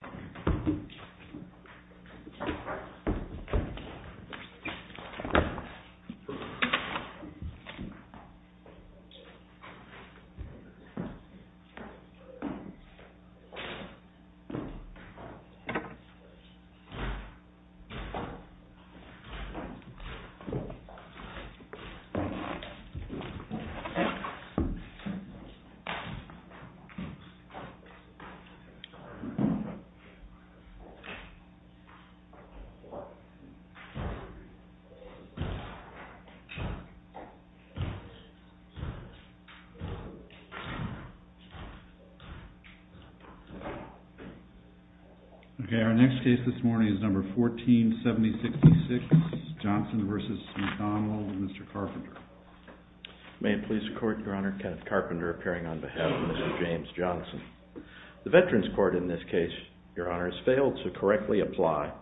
v. McDonald, Mr. Carpenter May it please the Court, Your Honor, Kenneth Carpenter appearing on behalf of Mr. James Johnson. The Veterans Court in this case, Your Honor, has failed to apply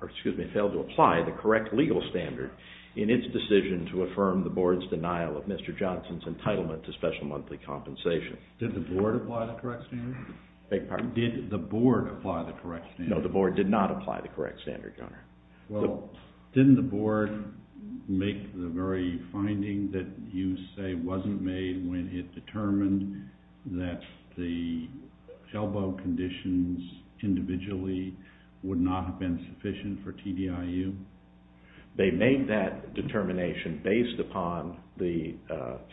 the correct legal standard in its decision to affirm the Board's denial of Mr. Johnson's entitlement to special monthly compensation. Did the Board apply the correct standard? Beg your pardon? Did the Board apply the correct standard? No, the Board did not apply the correct standard, Your Honor. Well, didn't the Board make the very finding that you say wasn't made when it determined that the elbow conditions individually would not have been sufficient for TDIU? They made that determination based upon the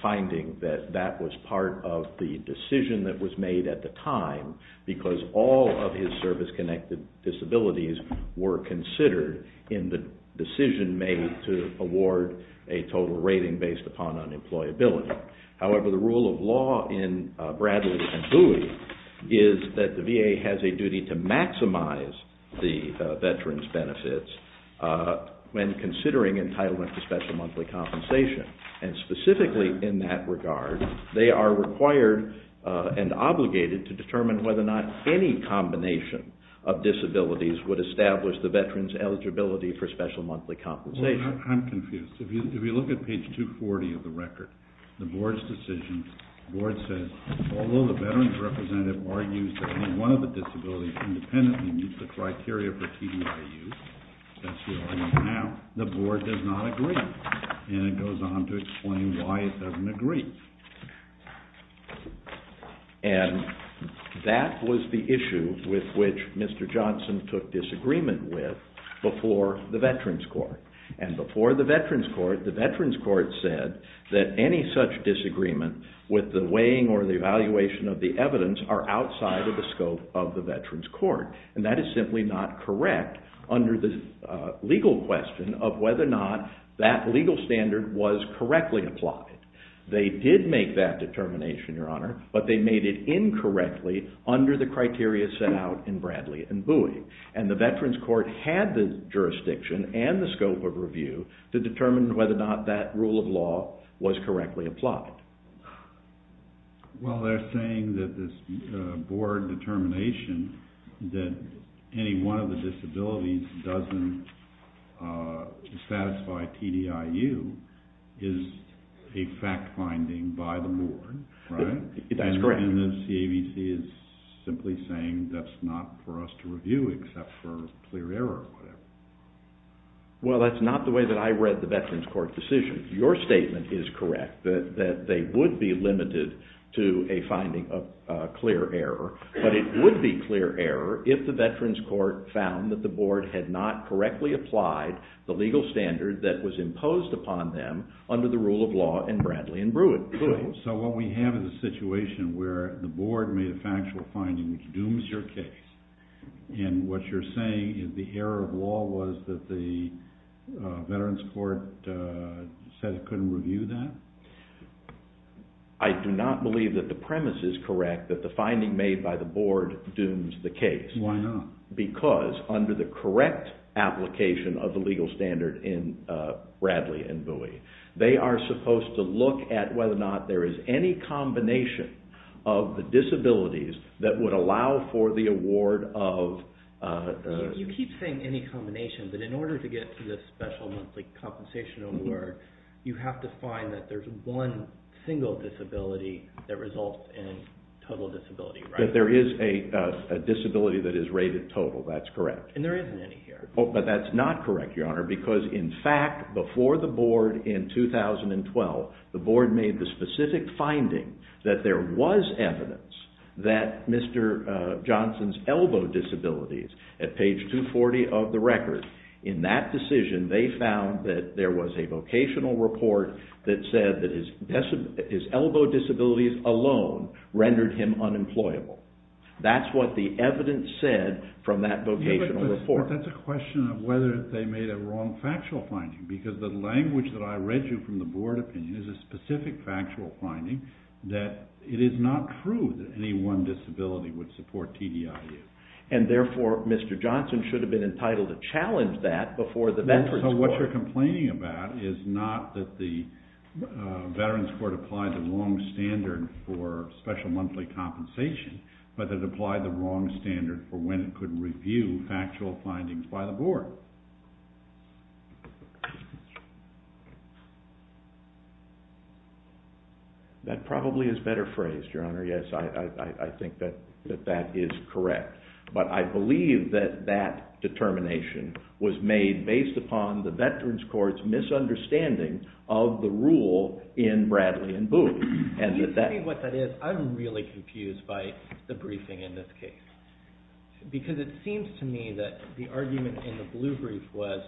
finding that that was part of the decision that was made at the time because all of his service-connected disabilities were considered in the decision made to award a total rating based upon unemployability. However, the rule of law in Bradley and Bowie is that the VA has a duty to maximize the Veterans benefits when considering entitlement to special monthly compensation. And specifically in that regard, they are required and obligated to determine whether not any combination of disabilities would establish the Veterans eligibility for special monthly compensation. I'm confused. If you look at page 240 of the record, the Board's decision, the Board says, although the Veterans representative argues that any one of the disabilities independently meets the criteria for TDIU, that's the opinion now, the Board does not agree. And it goes on to explain why it doesn't agree. And that was the issue with which Mr. Johnson took disagreement with before the Veterans Court. The Veterans Court said that any such disagreement with the weighing or the evaluation of the evidence are outside of the scope of the Veterans Court. And that is simply not correct under the legal question of whether or not that legal standard was correctly applied. They did make that determination, Your Honor, but they made it incorrectly under the criteria set out in Bradley and Bowie. And the Veterans Court had the jurisdiction and the scope of review to determine whether or not that rule of law was correctly applied. Well, they're saying that this Board determination that any one of the disabilities doesn't satisfy TDIU is a fact-finding by the Board, right? That's correct. And then CAVC is simply saying that's not for us to review except for clear error or whatever. Well, that's not the way that I read the Veterans Court decision. Your statement is correct, that they would be limited to a finding of clear error. But it would be clear error if the Veterans Court found that the Board had not correctly applied the legal standard that was imposed upon them under the rule of law in Bradley and Bowie. So what we have is a situation where the Board made a factual finding which dooms your case. And what you're saying is the error of law was that the Veterans Court said it couldn't review that? I do not believe that the premise is correct that the finding made by the Board dooms the case. Why not? Because under the correct application of the legal standard in Bradley and Bowie, they are supposed to look at whether or not there is any combination of the disabilities that would allow for the award of... You keep saying any combination, but in order to get to this special monthly compensation award, you have to find that there's one single disability that results in total disability, right? That there is a disability that is rated total, that's correct. And there isn't any here. But that's not correct, Your Honor, because in fact, before the Board in 2012, the Board made the specific finding that there was evidence that Mr. Johnson's elbow disabilities at page 240 of the record, in that decision, they found that there was a vocational report that said that his elbow disabilities alone rendered him unemployable. That's what the evidence said from that vocational report. But that's a question of whether they made a wrong factual finding, because the language that I read you from the Board opinion is a specific factual finding that it is not true that any one disability would support TDIU. And therefore, Mr. Johnson should have been entitled to challenge that before the Veterans Court. So what you're complaining about is not that the Veterans Court applied the wrong standard for special monthly compensation, but that it applied the wrong standard for when it could review factual findings by the Board. That probably is a better phrase, Your Honor, yes, I think that that is correct. But I believe that that determination was made based upon the Veterans Court's misunderstanding of the rule in Bradley and Boone. And that that... Can you tell me what that is? Because I'm really confused by the briefing in this case. Because it seems to me that the argument in the blue brief was,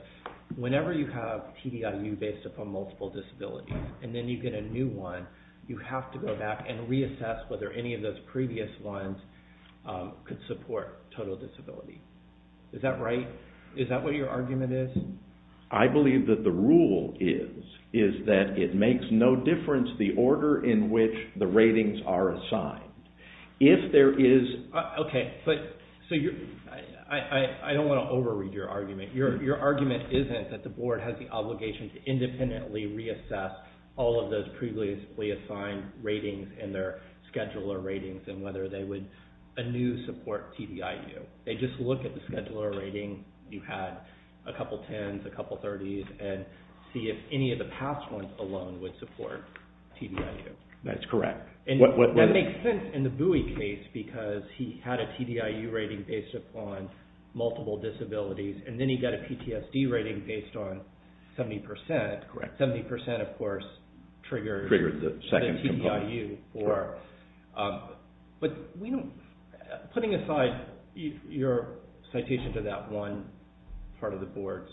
whenever you have TDIU based upon multiple disabilities, and then you get a new one, you have to go back and reassess whether any of those previous ones could support total disability. Is that right? Is that what your argument is? I believe that the rule is, is that it makes no difference the order in which the ratings are assigned. If there is... Okay. But... So you're... I don't want to overread your argument. Your argument isn't that the Board has the obligation to independently reassess all of those previously assigned ratings and their scheduler ratings and whether they would anew support TDIU. They just look at the scheduler rating, you had a couple tens, a couple thirties, and see if any of the past ones alone would support TDIU. That's correct. And that makes sense in the Bowie case, because he had a TDIU rating based upon multiple disabilities, and then he got a PTSD rating based on 70%. Correct. 70% of course triggered the TDIU. Triggered the second component. But putting aside your citation to that one part of the Board's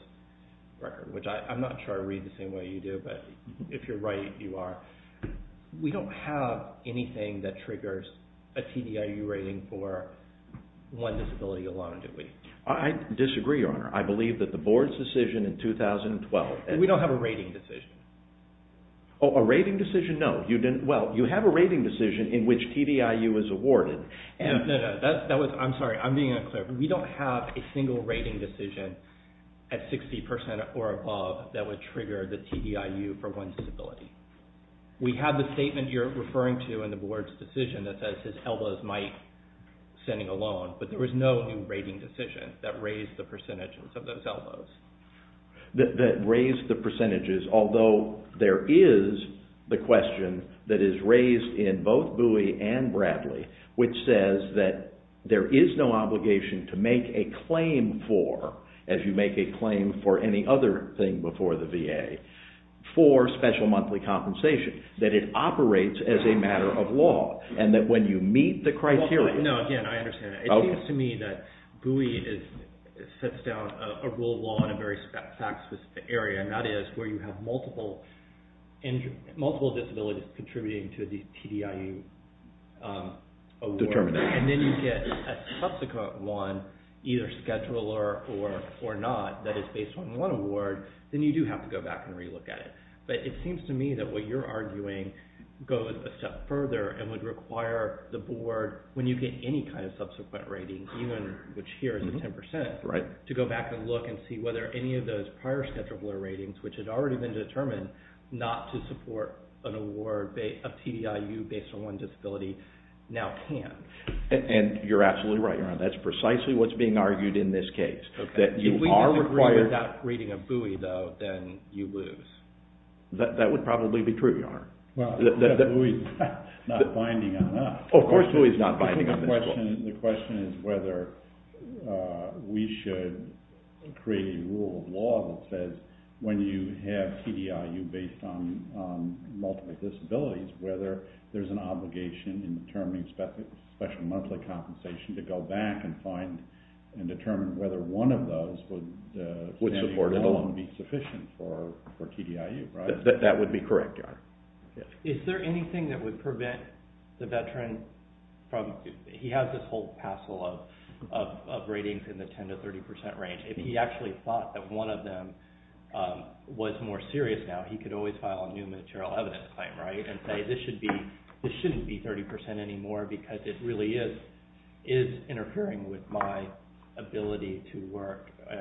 record, which I'm not sure I read the same way you do, but if you're right, you are. We don't have anything that triggers a TDIU rating for one disability alone, do we? I disagree, Your Honor. I believe that the Board's decision in 2012... We don't have a rating decision. A rating decision? No. You didn't... Well, you have a rating decision in which TDIU is awarded. No, no. That was... I'm sorry. I'm being unclear. We don't have a single rating decision at 60% or above that would trigger the TDIU for one disability. We have the statement you're referring to in the Board's decision that says his elbows might send him alone, but there was no new rating decision that raised the percentage of those elbows. That raised the percentages, although there is the question that is raised in both Bowie and Bradley, which says that there is no obligation to make a claim for, as you make a claim for any other thing before the VA, for special monthly compensation, that it operates as a matter of law, and that when you meet the criteria... No, again, I understand that. Okay. It seems to me that Bowie sets down a rule of law in a very fact-specific area, and that is where you have multiple disabilities contributing to the TDIU award, and then you get a subsequent one, either scheduler or not, that is based on one award, then you do have to go back and re-look at it. But it seems to me that what you're arguing goes a step further and would require the Board, when you get any kind of subsequent rating, even which here is a 10%, to go back and look and see whether any of those prior scheduler ratings, which had already been determined not to support an award of TDIU based on one disability, now can. And you're absolutely right, Your Honor. That's precisely what's being argued in this case, that you are required... Okay. If we don't agree with that rating of Bowie, though, then you lose. That would probably be true, Your Honor. Well, Bowie's not binding on that. Oh, of course Bowie's not binding on that. The question is whether we should create a rule of law that says when you have TDIU based on multiple disabilities, whether there's an obligation in determining special monthly compensation to go back and find and determine whether one of those would stand alone and be sufficient for TDIU, right? That would be correct, Your Honor. Is there anything that would prevent the veteran from... He has this whole parcel of ratings in the 10% to 30% range. If he actually thought that one of them was more serious now, he could always file a new material evidence claim, right, and say, this shouldn't be 30% anymore because it really is interfering with my ability to work, but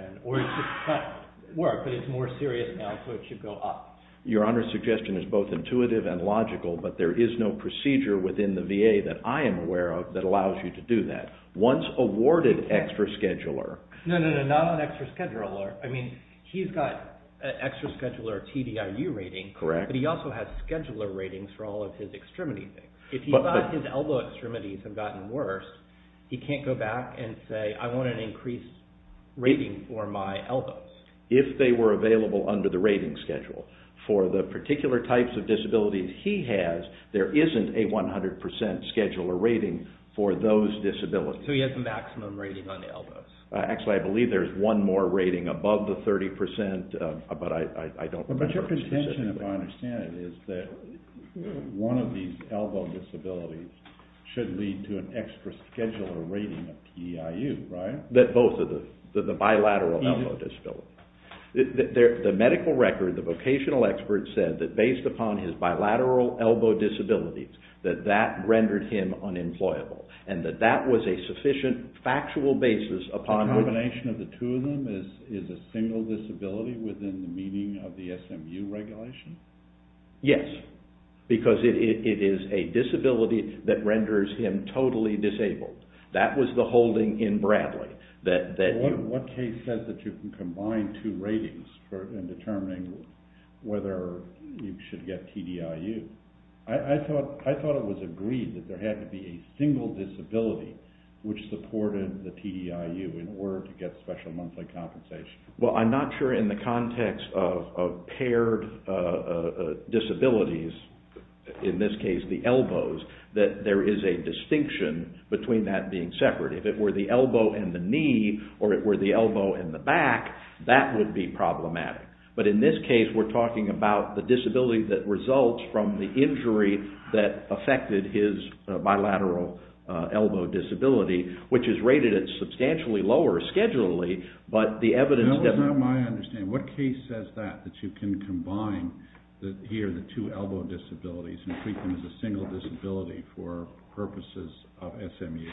it's more serious now, so it should go up. Your Honor's suggestion is both intuitive and logical, but there is no procedure within the VA that I am aware of that allows you to do that. Once awarded extra scheduler... No, no, no, not on extra scheduler. I mean, he's got an extra scheduler TDIU rating, but he also has scheduler ratings for all of his extremity things. If he thought his elbow extremities had gotten worse, he can't go back and say, I want an increased rating for my elbows. If they were available under the rating schedule for the particular types of disabilities he has, there isn't a 100% scheduler rating for those disabilities. So he has a maximum rating on the elbows. Actually, I believe there's one more rating above the 30%, but I don't remember... But your contention, if I understand it, is that one of these elbow disabilities should lead to an extra scheduler rating of TDIU, right? Both of them, the bilateral elbow disability. The medical record, the vocational expert said that based upon his bilateral elbow disabilities, that that rendered him unemployable, and that that was a sufficient factual basis upon... The combination of the two of them is a single disability within the meaning of the SMU regulation? Yes, because it is a disability that renders him totally disabled. That was the holding in Bradley that you... What case said that you can combine two ratings in determining whether you should get TDIU? I thought it was agreed that there had to be a single disability which supported the TDIU in order to get special monthly compensation. Well, I'm not sure in the context of paired disabilities, in this case the elbows, that there is a distinction between that being separate. If it were the elbow and the knee, or if it were the elbow and the back, that would be problematic. But in this case, we're talking about the disability that results from the injury that affected his bilateral elbow disability, which is rated at substantially lower schedulely, but the evidence... That was not my understanding. What case says that, that you can combine here the two elbow disabilities and treat them as a single disability for purposes of SMU?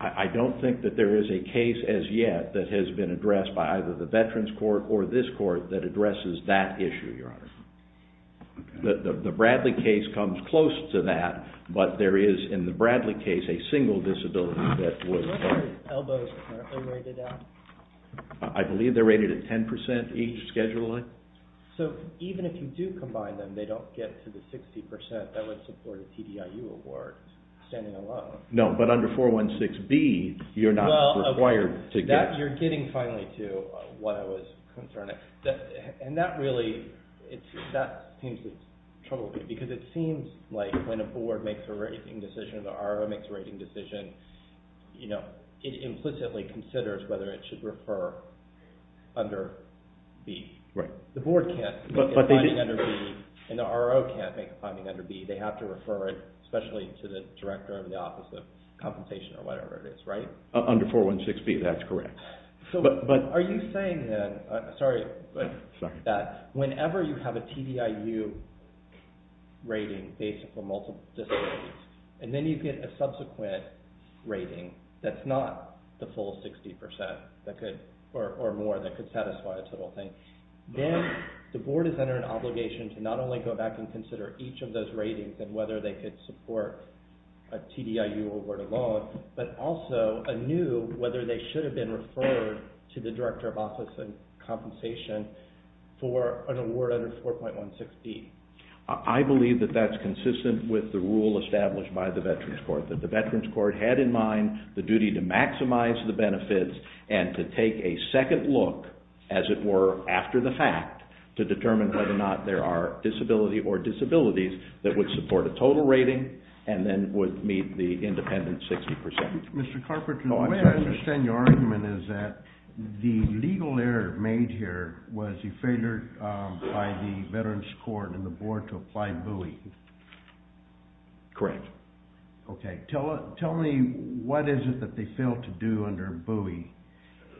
I don't think that there is a case as yet that has been addressed by either the Veterans Court or this court that addresses that issue, Your Honor. The Bradley case comes close to that, but there is, in the Bradley case, a single disability that was... What are elbows currently rated at? I believe they're rated at 10% each, schedulely. So even if you do combine them, they don't get to the 60% that would support a TDIU award standing alone. No, but under 416B, you're not required to get... You're getting finally to what I was concerned. And that really, that seems to trouble me, because it seems like when a board makes a rating decision, or the RO makes a rating decision, it implicitly considers whether it should refer under B. The board can't make a finding under B, and the RO can't make a finding under B. They have to refer it, especially to the director of the Office of Compensation or whatever it is, right? Under 416B, that's correct. Are you saying then, sorry, that whenever you have a TDIU rating based on multiple disabilities, and then you get a subsequent rating that's not the full 60% or more that could satisfy a total thing, then the board is under an obligation to not only go back and consider each of those ratings and whether they could support a TDIU award alone, but also a new, whether they should have been referred to the director of Office of Compensation for an award under 4.16B? I believe that that's consistent with the rule established by the Veterans Court, that the Veterans Court had in mind the duty to maximize the benefits and to take a second look, as it were, after the fact, to determine whether or not there are disability or disabilities that would support a total rating, and then would meet the independent 60%. Mr. Carpenter, the way I understand your argument is that the legal error made here was a failure by the Veterans Court and the board to apply BUI. Correct. Okay, tell me what is it that they failed to do under BUI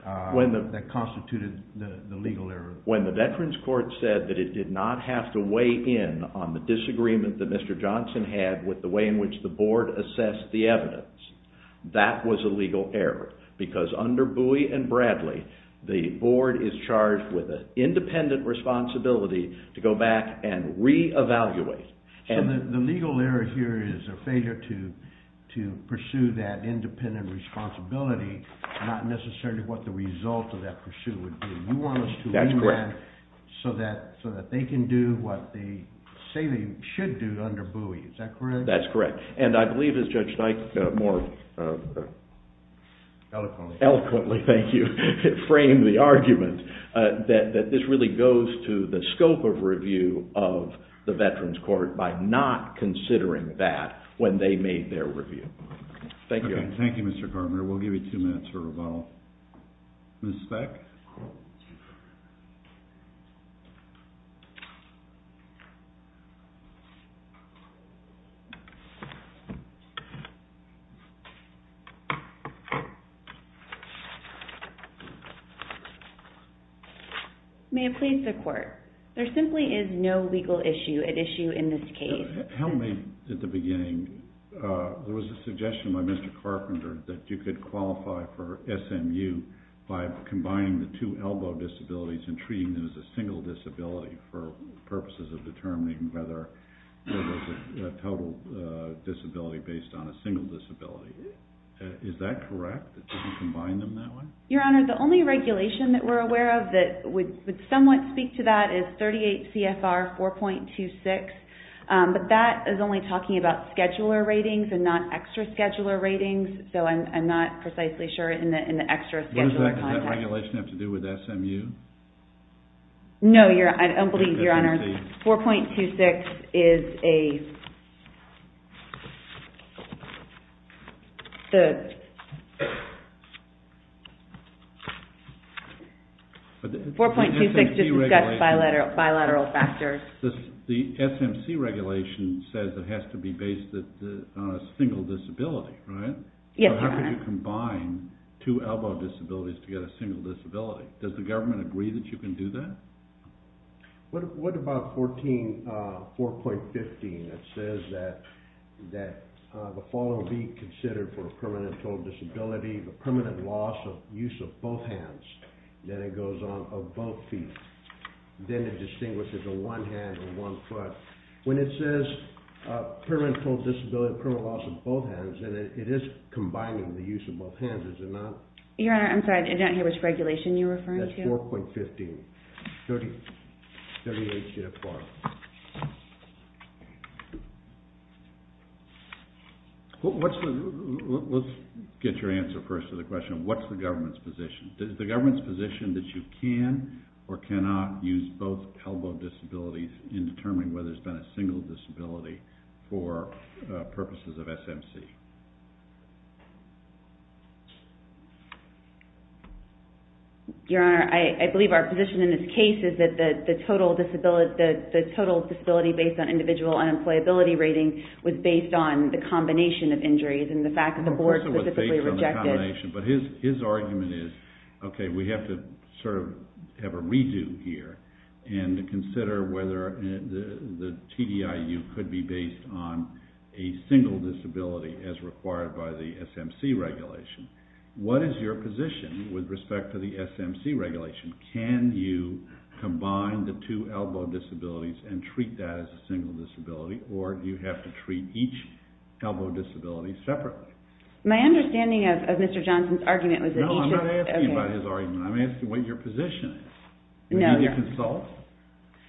that constituted the legal error? When the Veterans Court said that it did not have to weigh in on the disagreement that Mr. Johnson had with the way in which the board assessed the evidence, that was a legal error, because under BUI and Bradley, the board is charged with an independent responsibility to go back and re-evaluate. The legal error here is a failure to pursue that independent responsibility, not necessarily what the result of that pursuit would be. You want us to lean that so that they can do what they say they should do under BUI. Is that correct? That's correct. And I believe, as Judge Knight more eloquently framed the argument, that this really goes to the scope of review of the Veterans Court by not considering that when they made their review. Thank you. Thank you, Mr. Carpenter. We'll give you two minutes for rebuttal. Ms. Speck? May it please the Court, there simply is no legal issue at issue in this case. Tell me at the beginning, there was a suggestion by Mr. Carpenter that you could qualify for the two elbow disabilities and treating them as a single disability for purposes of determining whether there was a total disability based on a single disability. Is that correct? That you can combine them that way? Your Honor, the only regulation that we're aware of that would somewhat speak to that is 38 CFR 4.26, but that is only talking about scheduler ratings and not extra scheduler content. Does that regulation have to do with SMU? No, I don't believe, Your Honor. 4.26 is a... 4.26 just discusses bilateral factors. The SMC regulation says it has to be based on a single disability, right? Yes, Your Honor. How could you combine two elbow disabilities to get a single disability? Does the government agree that you can do that? What about 14, 4.15 that says that the following be considered for a permanent total disability, the permanent loss of use of both hands, then it goes on of both feet. Then it distinguishes a one hand and one foot. When it says permanent total disability, permanent loss of both hands, then it is combining the use of both hands, is it not? Your Honor, I'm sorry, I don't hear which regulation you're referring to. That's 4.15, 38 CFR. Let's get your answer first to the question, what's the government's position? Does the government's position that you can or cannot use both elbow disabilities in a single disability for purposes of SMC? Your Honor, I believe our position in this case is that the total disability based on individual unemployability rating was based on the combination of injuries and the fact that the board specifically rejected... Of course it was based on the combination, but his argument is, okay, we have to sort the TDIU could be based on a single disability as required by the SMC regulation. What is your position with respect to the SMC regulation? Can you combine the two elbow disabilities and treat that as a single disability, or do you have to treat each elbow disability separately? My understanding of Mr. Johnson's argument was that each... No, I'm not asking about his argument, I'm asking what your position is. No, Your Honor. Do you consult?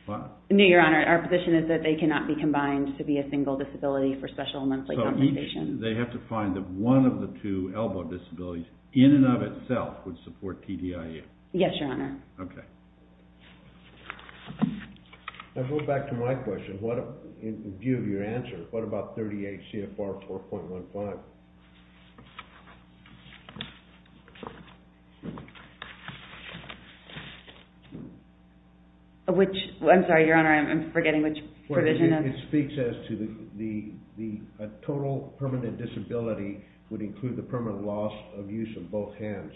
What? No, Your Honor, our position is that they cannot be combined to be a single disability for special monthly compensation. They have to find that one of the two elbow disabilities in and of itself would support TDIU? Yes, Your Honor. Okay. I'll go back to my question, in view of your answer, what about 38 CFR 4.15? Which... I'm sorry, Your Honor, I'm forgetting which provision... It speaks as to the total permanent disability would include the permanent loss of use of both hands.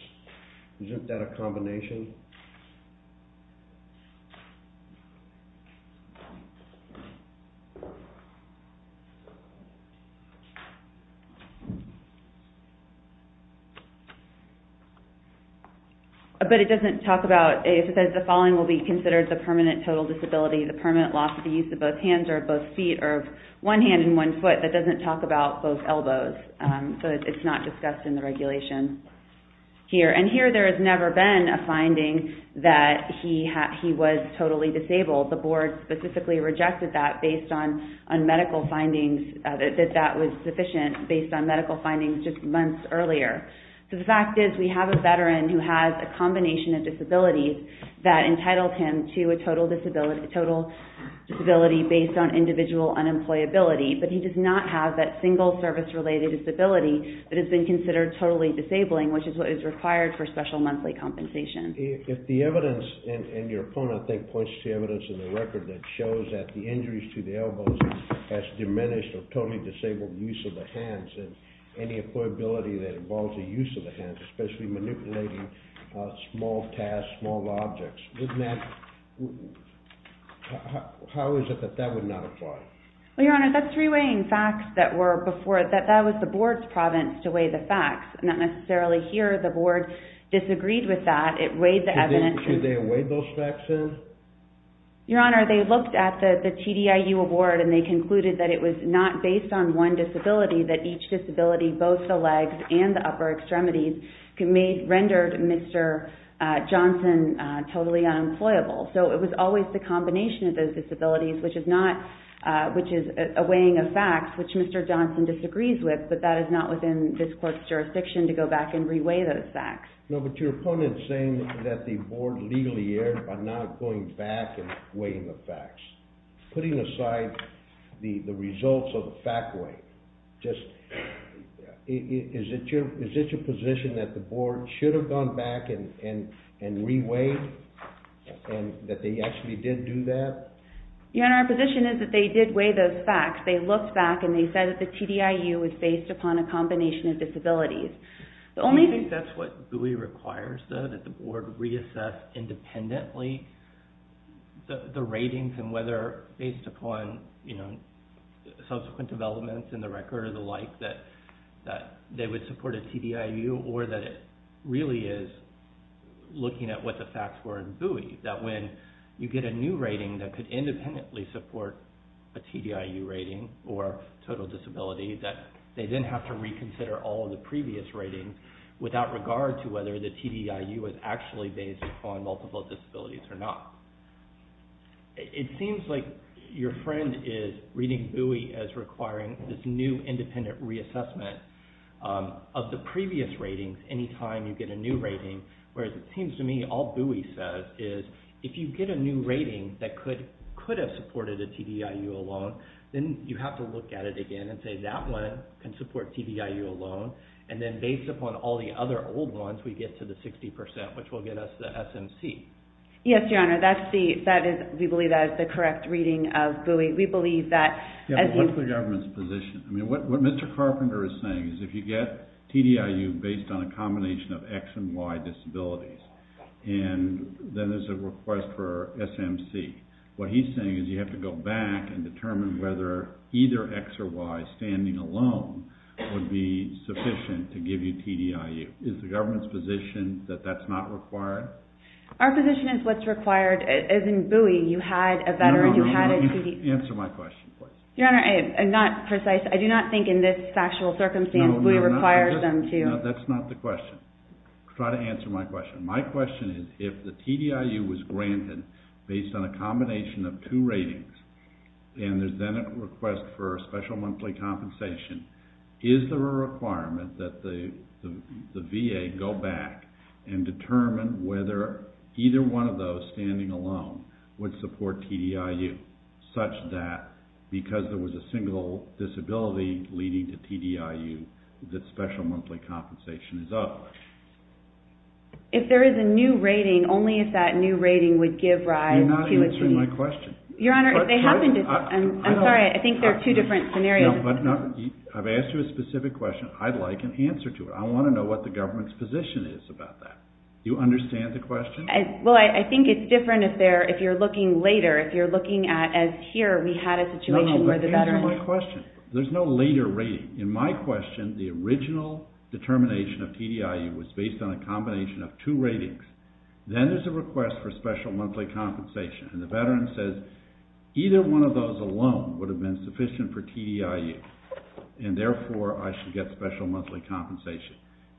Isn't that a combination? But it doesn't talk about... It says the following will be considered the permanent total disability, the permanent loss of use of both hands or both feet, or one hand and one foot. That doesn't talk about both elbows, so it's not discussed in the regulation here. And here there has never been a finding that he was totally disabled. The board specifically rejected that based on medical findings, that that was sufficient based on medical findings just months earlier. So the fact is we have a veteran who has a combination of disabilities that entitled him to a total disability based on individual unemployability, but he does not have that single service-related disability that has been considered totally disabling, which is required for special monthly compensation. If the evidence, and your opponent, I think, points to evidence in the record that shows that the injuries to the elbows has diminished or totally disabled use of the hands and any employability that involves the use of the hands, especially manipulating small tasks, small objects, wouldn't that... How is it that that would not apply? Well, Your Honor, that's reweighing facts that were before... That was the board's province to weigh the facts, not necessarily here. The board disagreed with that. It weighed the evidence... Should they weigh those facts in? Your Honor, they looked at the TDIU award and they concluded that it was not based on one disability, that each disability, both the legs and the upper extremities, rendered Mr. Johnson totally unemployable. So it was always the combination of those disabilities, which is a weighing of facts, which Mr. Johnson disagrees with, but that is not within this court's jurisdiction to go back and reweigh those facts. No, but your opponent's saying that the board legally erred by not going back and weighing the facts. Putting aside the results of the fact weight, just... Is it your position that the board should have gone back and reweighed, and that they actually did do that? Your Honor, our position is that they did weigh those facts. They looked back and they said that the TDIU was based upon a combination of disabilities. The only... Do you think that's what Bowie requires, though? That the board reassess independently the ratings and whether, based upon subsequent developments in the record or the like, that they would support a TDIU, or that it really is looking at what the facts were in Bowie, that when you get a new rating that could or total disability, that they then have to reconsider all of the previous ratings without regard to whether the TDIU is actually based upon multiple disabilities or not. It seems like your friend is reading Bowie as requiring this new independent reassessment of the previous ratings any time you get a new rating, whereas it seems to me all Bowie says is, if you get a new rating that could have supported a TDIU alone, then you have to look at it again and say, that one can support TDIU alone, and then based upon all the other old ones, we get to the 60%, which will get us the SMC. Yes, Your Honor. That's the... That is... We believe that is the correct reading of Bowie. We believe that... Yeah, but what's the government's position? I mean, what Mr. Carpenter is saying is if you get TDIU based on a combination of X and Y disabilities, and then there's a request for SMC, what he's saying is you have to go back and determine whether either X or Y standing alone would be sufficient to give you TDIU. Is the government's position that that's not required? Our position is what's required. As in Bowie, you had a veteran, you had a TDIU... Answer my question, please. Your Honor, I'm not precise. I do not think in this factual circumstance Bowie requires them to... No, that's not the question. Try to answer my question. My question is if the TDIU was granted based on a combination of two ratings, and there's then a request for a special monthly compensation, is there a requirement that the VA go back and determine whether either one of those standing alone would support TDIU, such that because there was a single disability leading to TDIU, the special monthly compensation is up? If there is a new rating, only if that new rating would give rise to a TDIU... You're not answering my question. Your Honor, if they happen to... I'm sorry, I think there are two different scenarios. I've asked you a specific question. I'd like an answer to it. I want to know what the government's position is about that. Do you understand the question? Well, I think it's different if you're looking later. If you're looking at as here, we had a situation where the veteran... No, no, but answer my question. There's no later rating. In my question, the original determination of TDIU was based on a combination of two ratings. Then there's a request for special monthly compensation, and the veteran says, either one of those alone would have been sufficient for TDIU, and therefore, I should get special monthly compensation.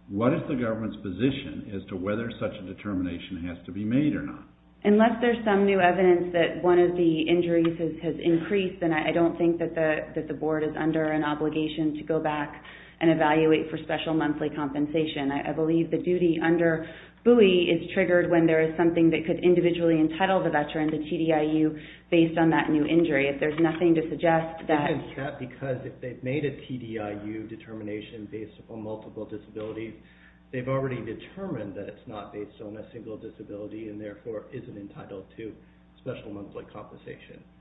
What is the government's position as to whether such a determination has to be made or not? Unless there's some new evidence that one of the injuries has increased, then I don't think that the board is under an obligation to go back and evaluate for special monthly compensation. I believe the duty under BUI is triggered when there is something that could individually entitle the veteran to TDIU based on that new injury. If there's nothing to suggest that... I think it's that because if they've made a TDIU determination based upon multiple disabilities, they've already determined that it's not based on a single disability,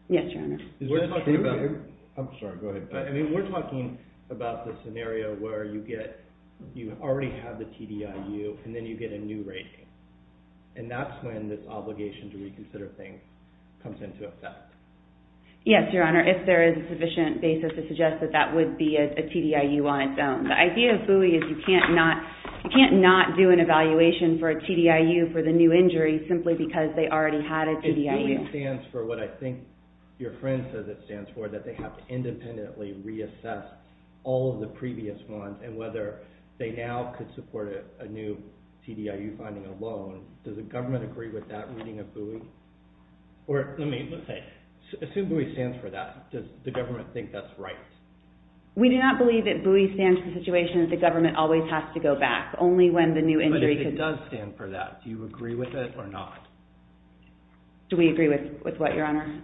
Yes, Your Honor. We're talking about the scenario where you already have the TDIU, and then you get a new rating. That's when this obligation to reconsider things comes into effect. Yes, Your Honor. If there is a sufficient basis to suggest that that would be a TDIU on its own. The idea of BUI is you can't not do an evaluation for a TDIU for the new injury simply because they already had a TDIU. BUI stands for what I think your friend says it stands for, that they have to independently reassess all of the previous ones, and whether they now could support a new TDIU finding alone. Does the government agree with that reading of BUI? Assume BUI stands for that. Does the government think that's right? We do not believe that BUI stands for the situation that the government always has to go back. Only when the new injury... But if it does stand for that, do you agree with it or not? Do we agree with what, Your Honor?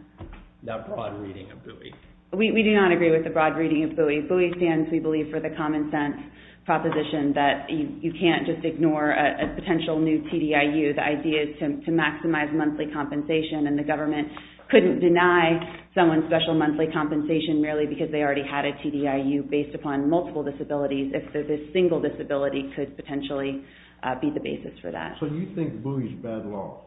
That broad reading of BUI. We do not agree with the broad reading of BUI. BUI stands, we believe, for the common sense proposition that you can't just ignore a potential new TDIU. The idea is to maximize monthly compensation, and the government couldn't deny someone special monthly compensation merely because they already had a TDIU based upon multiple disabilities. If there's a single disability, it could potentially be the basis for that. So you think BUI is bad law?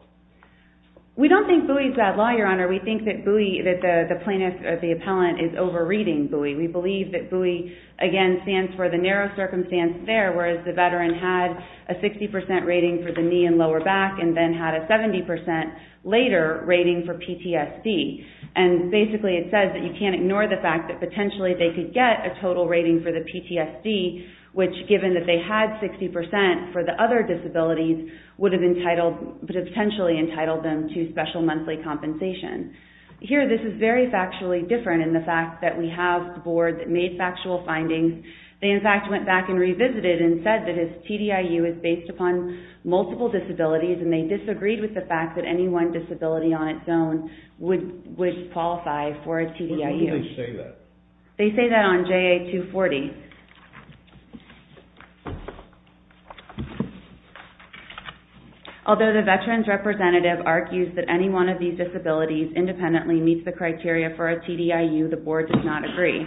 We don't think BUI is bad law, Your Honor. We think that the plaintiff, the appellant, is over-reading BUI. We believe that BUI, again, stands for the narrow circumstance there, whereas the veteran had a 60% rating for the knee and lower back, and then had a 70% later rating for PTSD. And basically, it says that you can't ignore the fact that potentially they could get a total rating for the PTSD, which, given that they had 60% for the other disabilities, would have potentially entitled them to special monthly compensation. Here, this is very factually different in the fact that we have the board that made factual findings. They, in fact, went back and revisited and said that his TDIU is based upon multiple disabilities, and they disagreed with the fact that any one disability on its own would qualify for a TDIU. When did they say that? They say that on JA-240. Although the veteran's representative argues that any one of these disabilities independently meets the criteria for a TDIU, the board does not agree.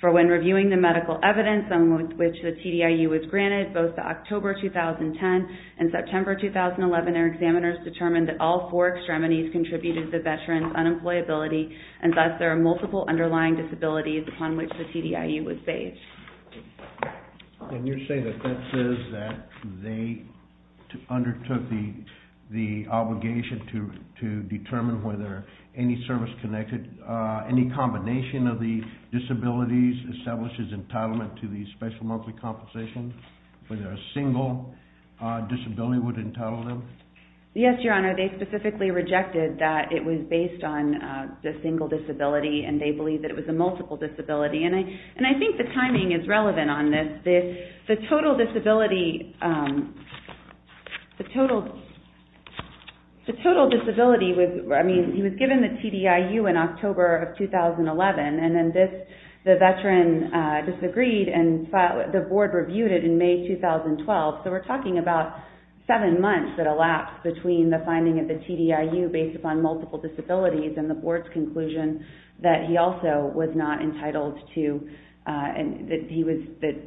For when reviewing the medical evidence on which the TDIU was granted, both the October 2010 and September 2011, their examiners determined that all four extremities contributed to the veteran's unemployability, and thus, there are multiple underlying disabilities upon which the TDIU was based. And you're saying that that says that they undertook the obligation to determine whether any service connected, any combination of the disabilities establishes entitlement to the special monthly compensation, whether a single disability would entitle them? Yes, Your Honor. They specifically rejected that it was based on a single disability, and they believe that it was a multiple disability. And I think the timing is relevant on this. He was given the TDIU in October of 2011, and then the veteran disagreed, and the board reviewed it in May 2012. So we're talking about seven months that elapsed between the finding of the TDIU based upon multiple disabilities and the board's conclusion that he also was not entitled to, and that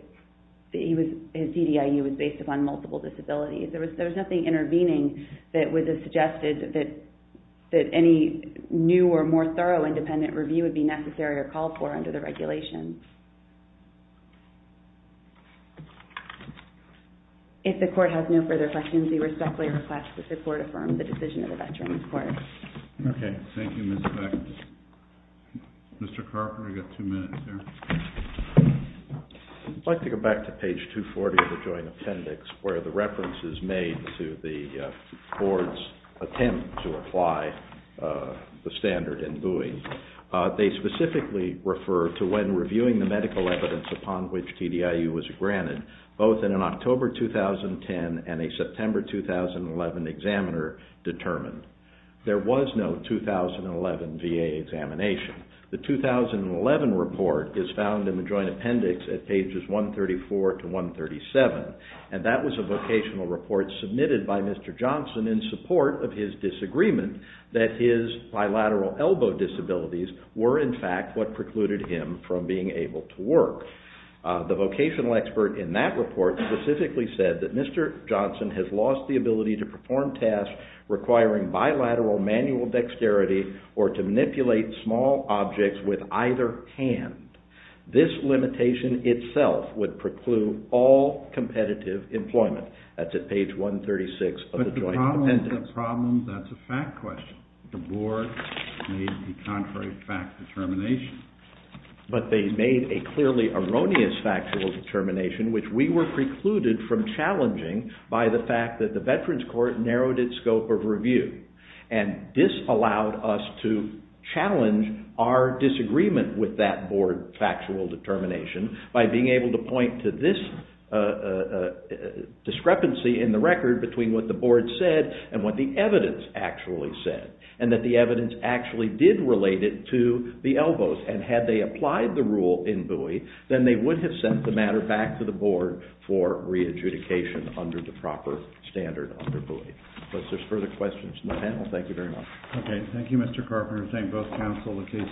his TDIU was based upon multiple disabilities. There was nothing intervening that was suggested that any new or more thorough independent review would be necessary or called for under the regulation. If the court has no further questions, we respectfully request that the court affirm the decision of the Veterans Court. Okay. Thank you, Ms. Beck. Mr. Carper, you've got two minutes there. I'd like to go back to page 240 of the joint appendix where the reference is made to the board's attempt to apply the standard in buoying. They specifically refer to when reviewing the medical evidence upon which TDIU was granted, both in an October 2010 and a September 2011 examiner determined. There was no 2011 VA examination. The 2011 report is found in the joint appendix at pages 134 to 137, and that was a vocational report submitted by Mr. Johnson in support of his disagreement that his bilateral elbow disabilities were in fact what precluded him from being able to work. The vocational expert in that report specifically said that Mr. Johnson has lost the ability to perform tasks requiring bilateral manual dexterity or to manipulate small objects with either hand. This limitation itself would preclude all competitive employment. That's at page 136 of the joint appendix. The problem, that's a fact question. The board made the contrary fact determination. But they made a clearly erroneous factual determination which we were precluded from challenging by the fact that the Veterans Court narrowed its scope of review. And this allowed us to challenge our disagreement with that board factual determination by being able to point to this discrepancy in the record between what the board said and what the evidence actually said, and that the evidence actually did relate it to the elbows. And had they applied the rule in Bowie, then they would have sent the matter back to the board for re-adjudication under the proper standard under Bowie. Unless there's further questions from the panel, thank you very much. Okay, thank you, Mr. Carpenter. Thank both counsel.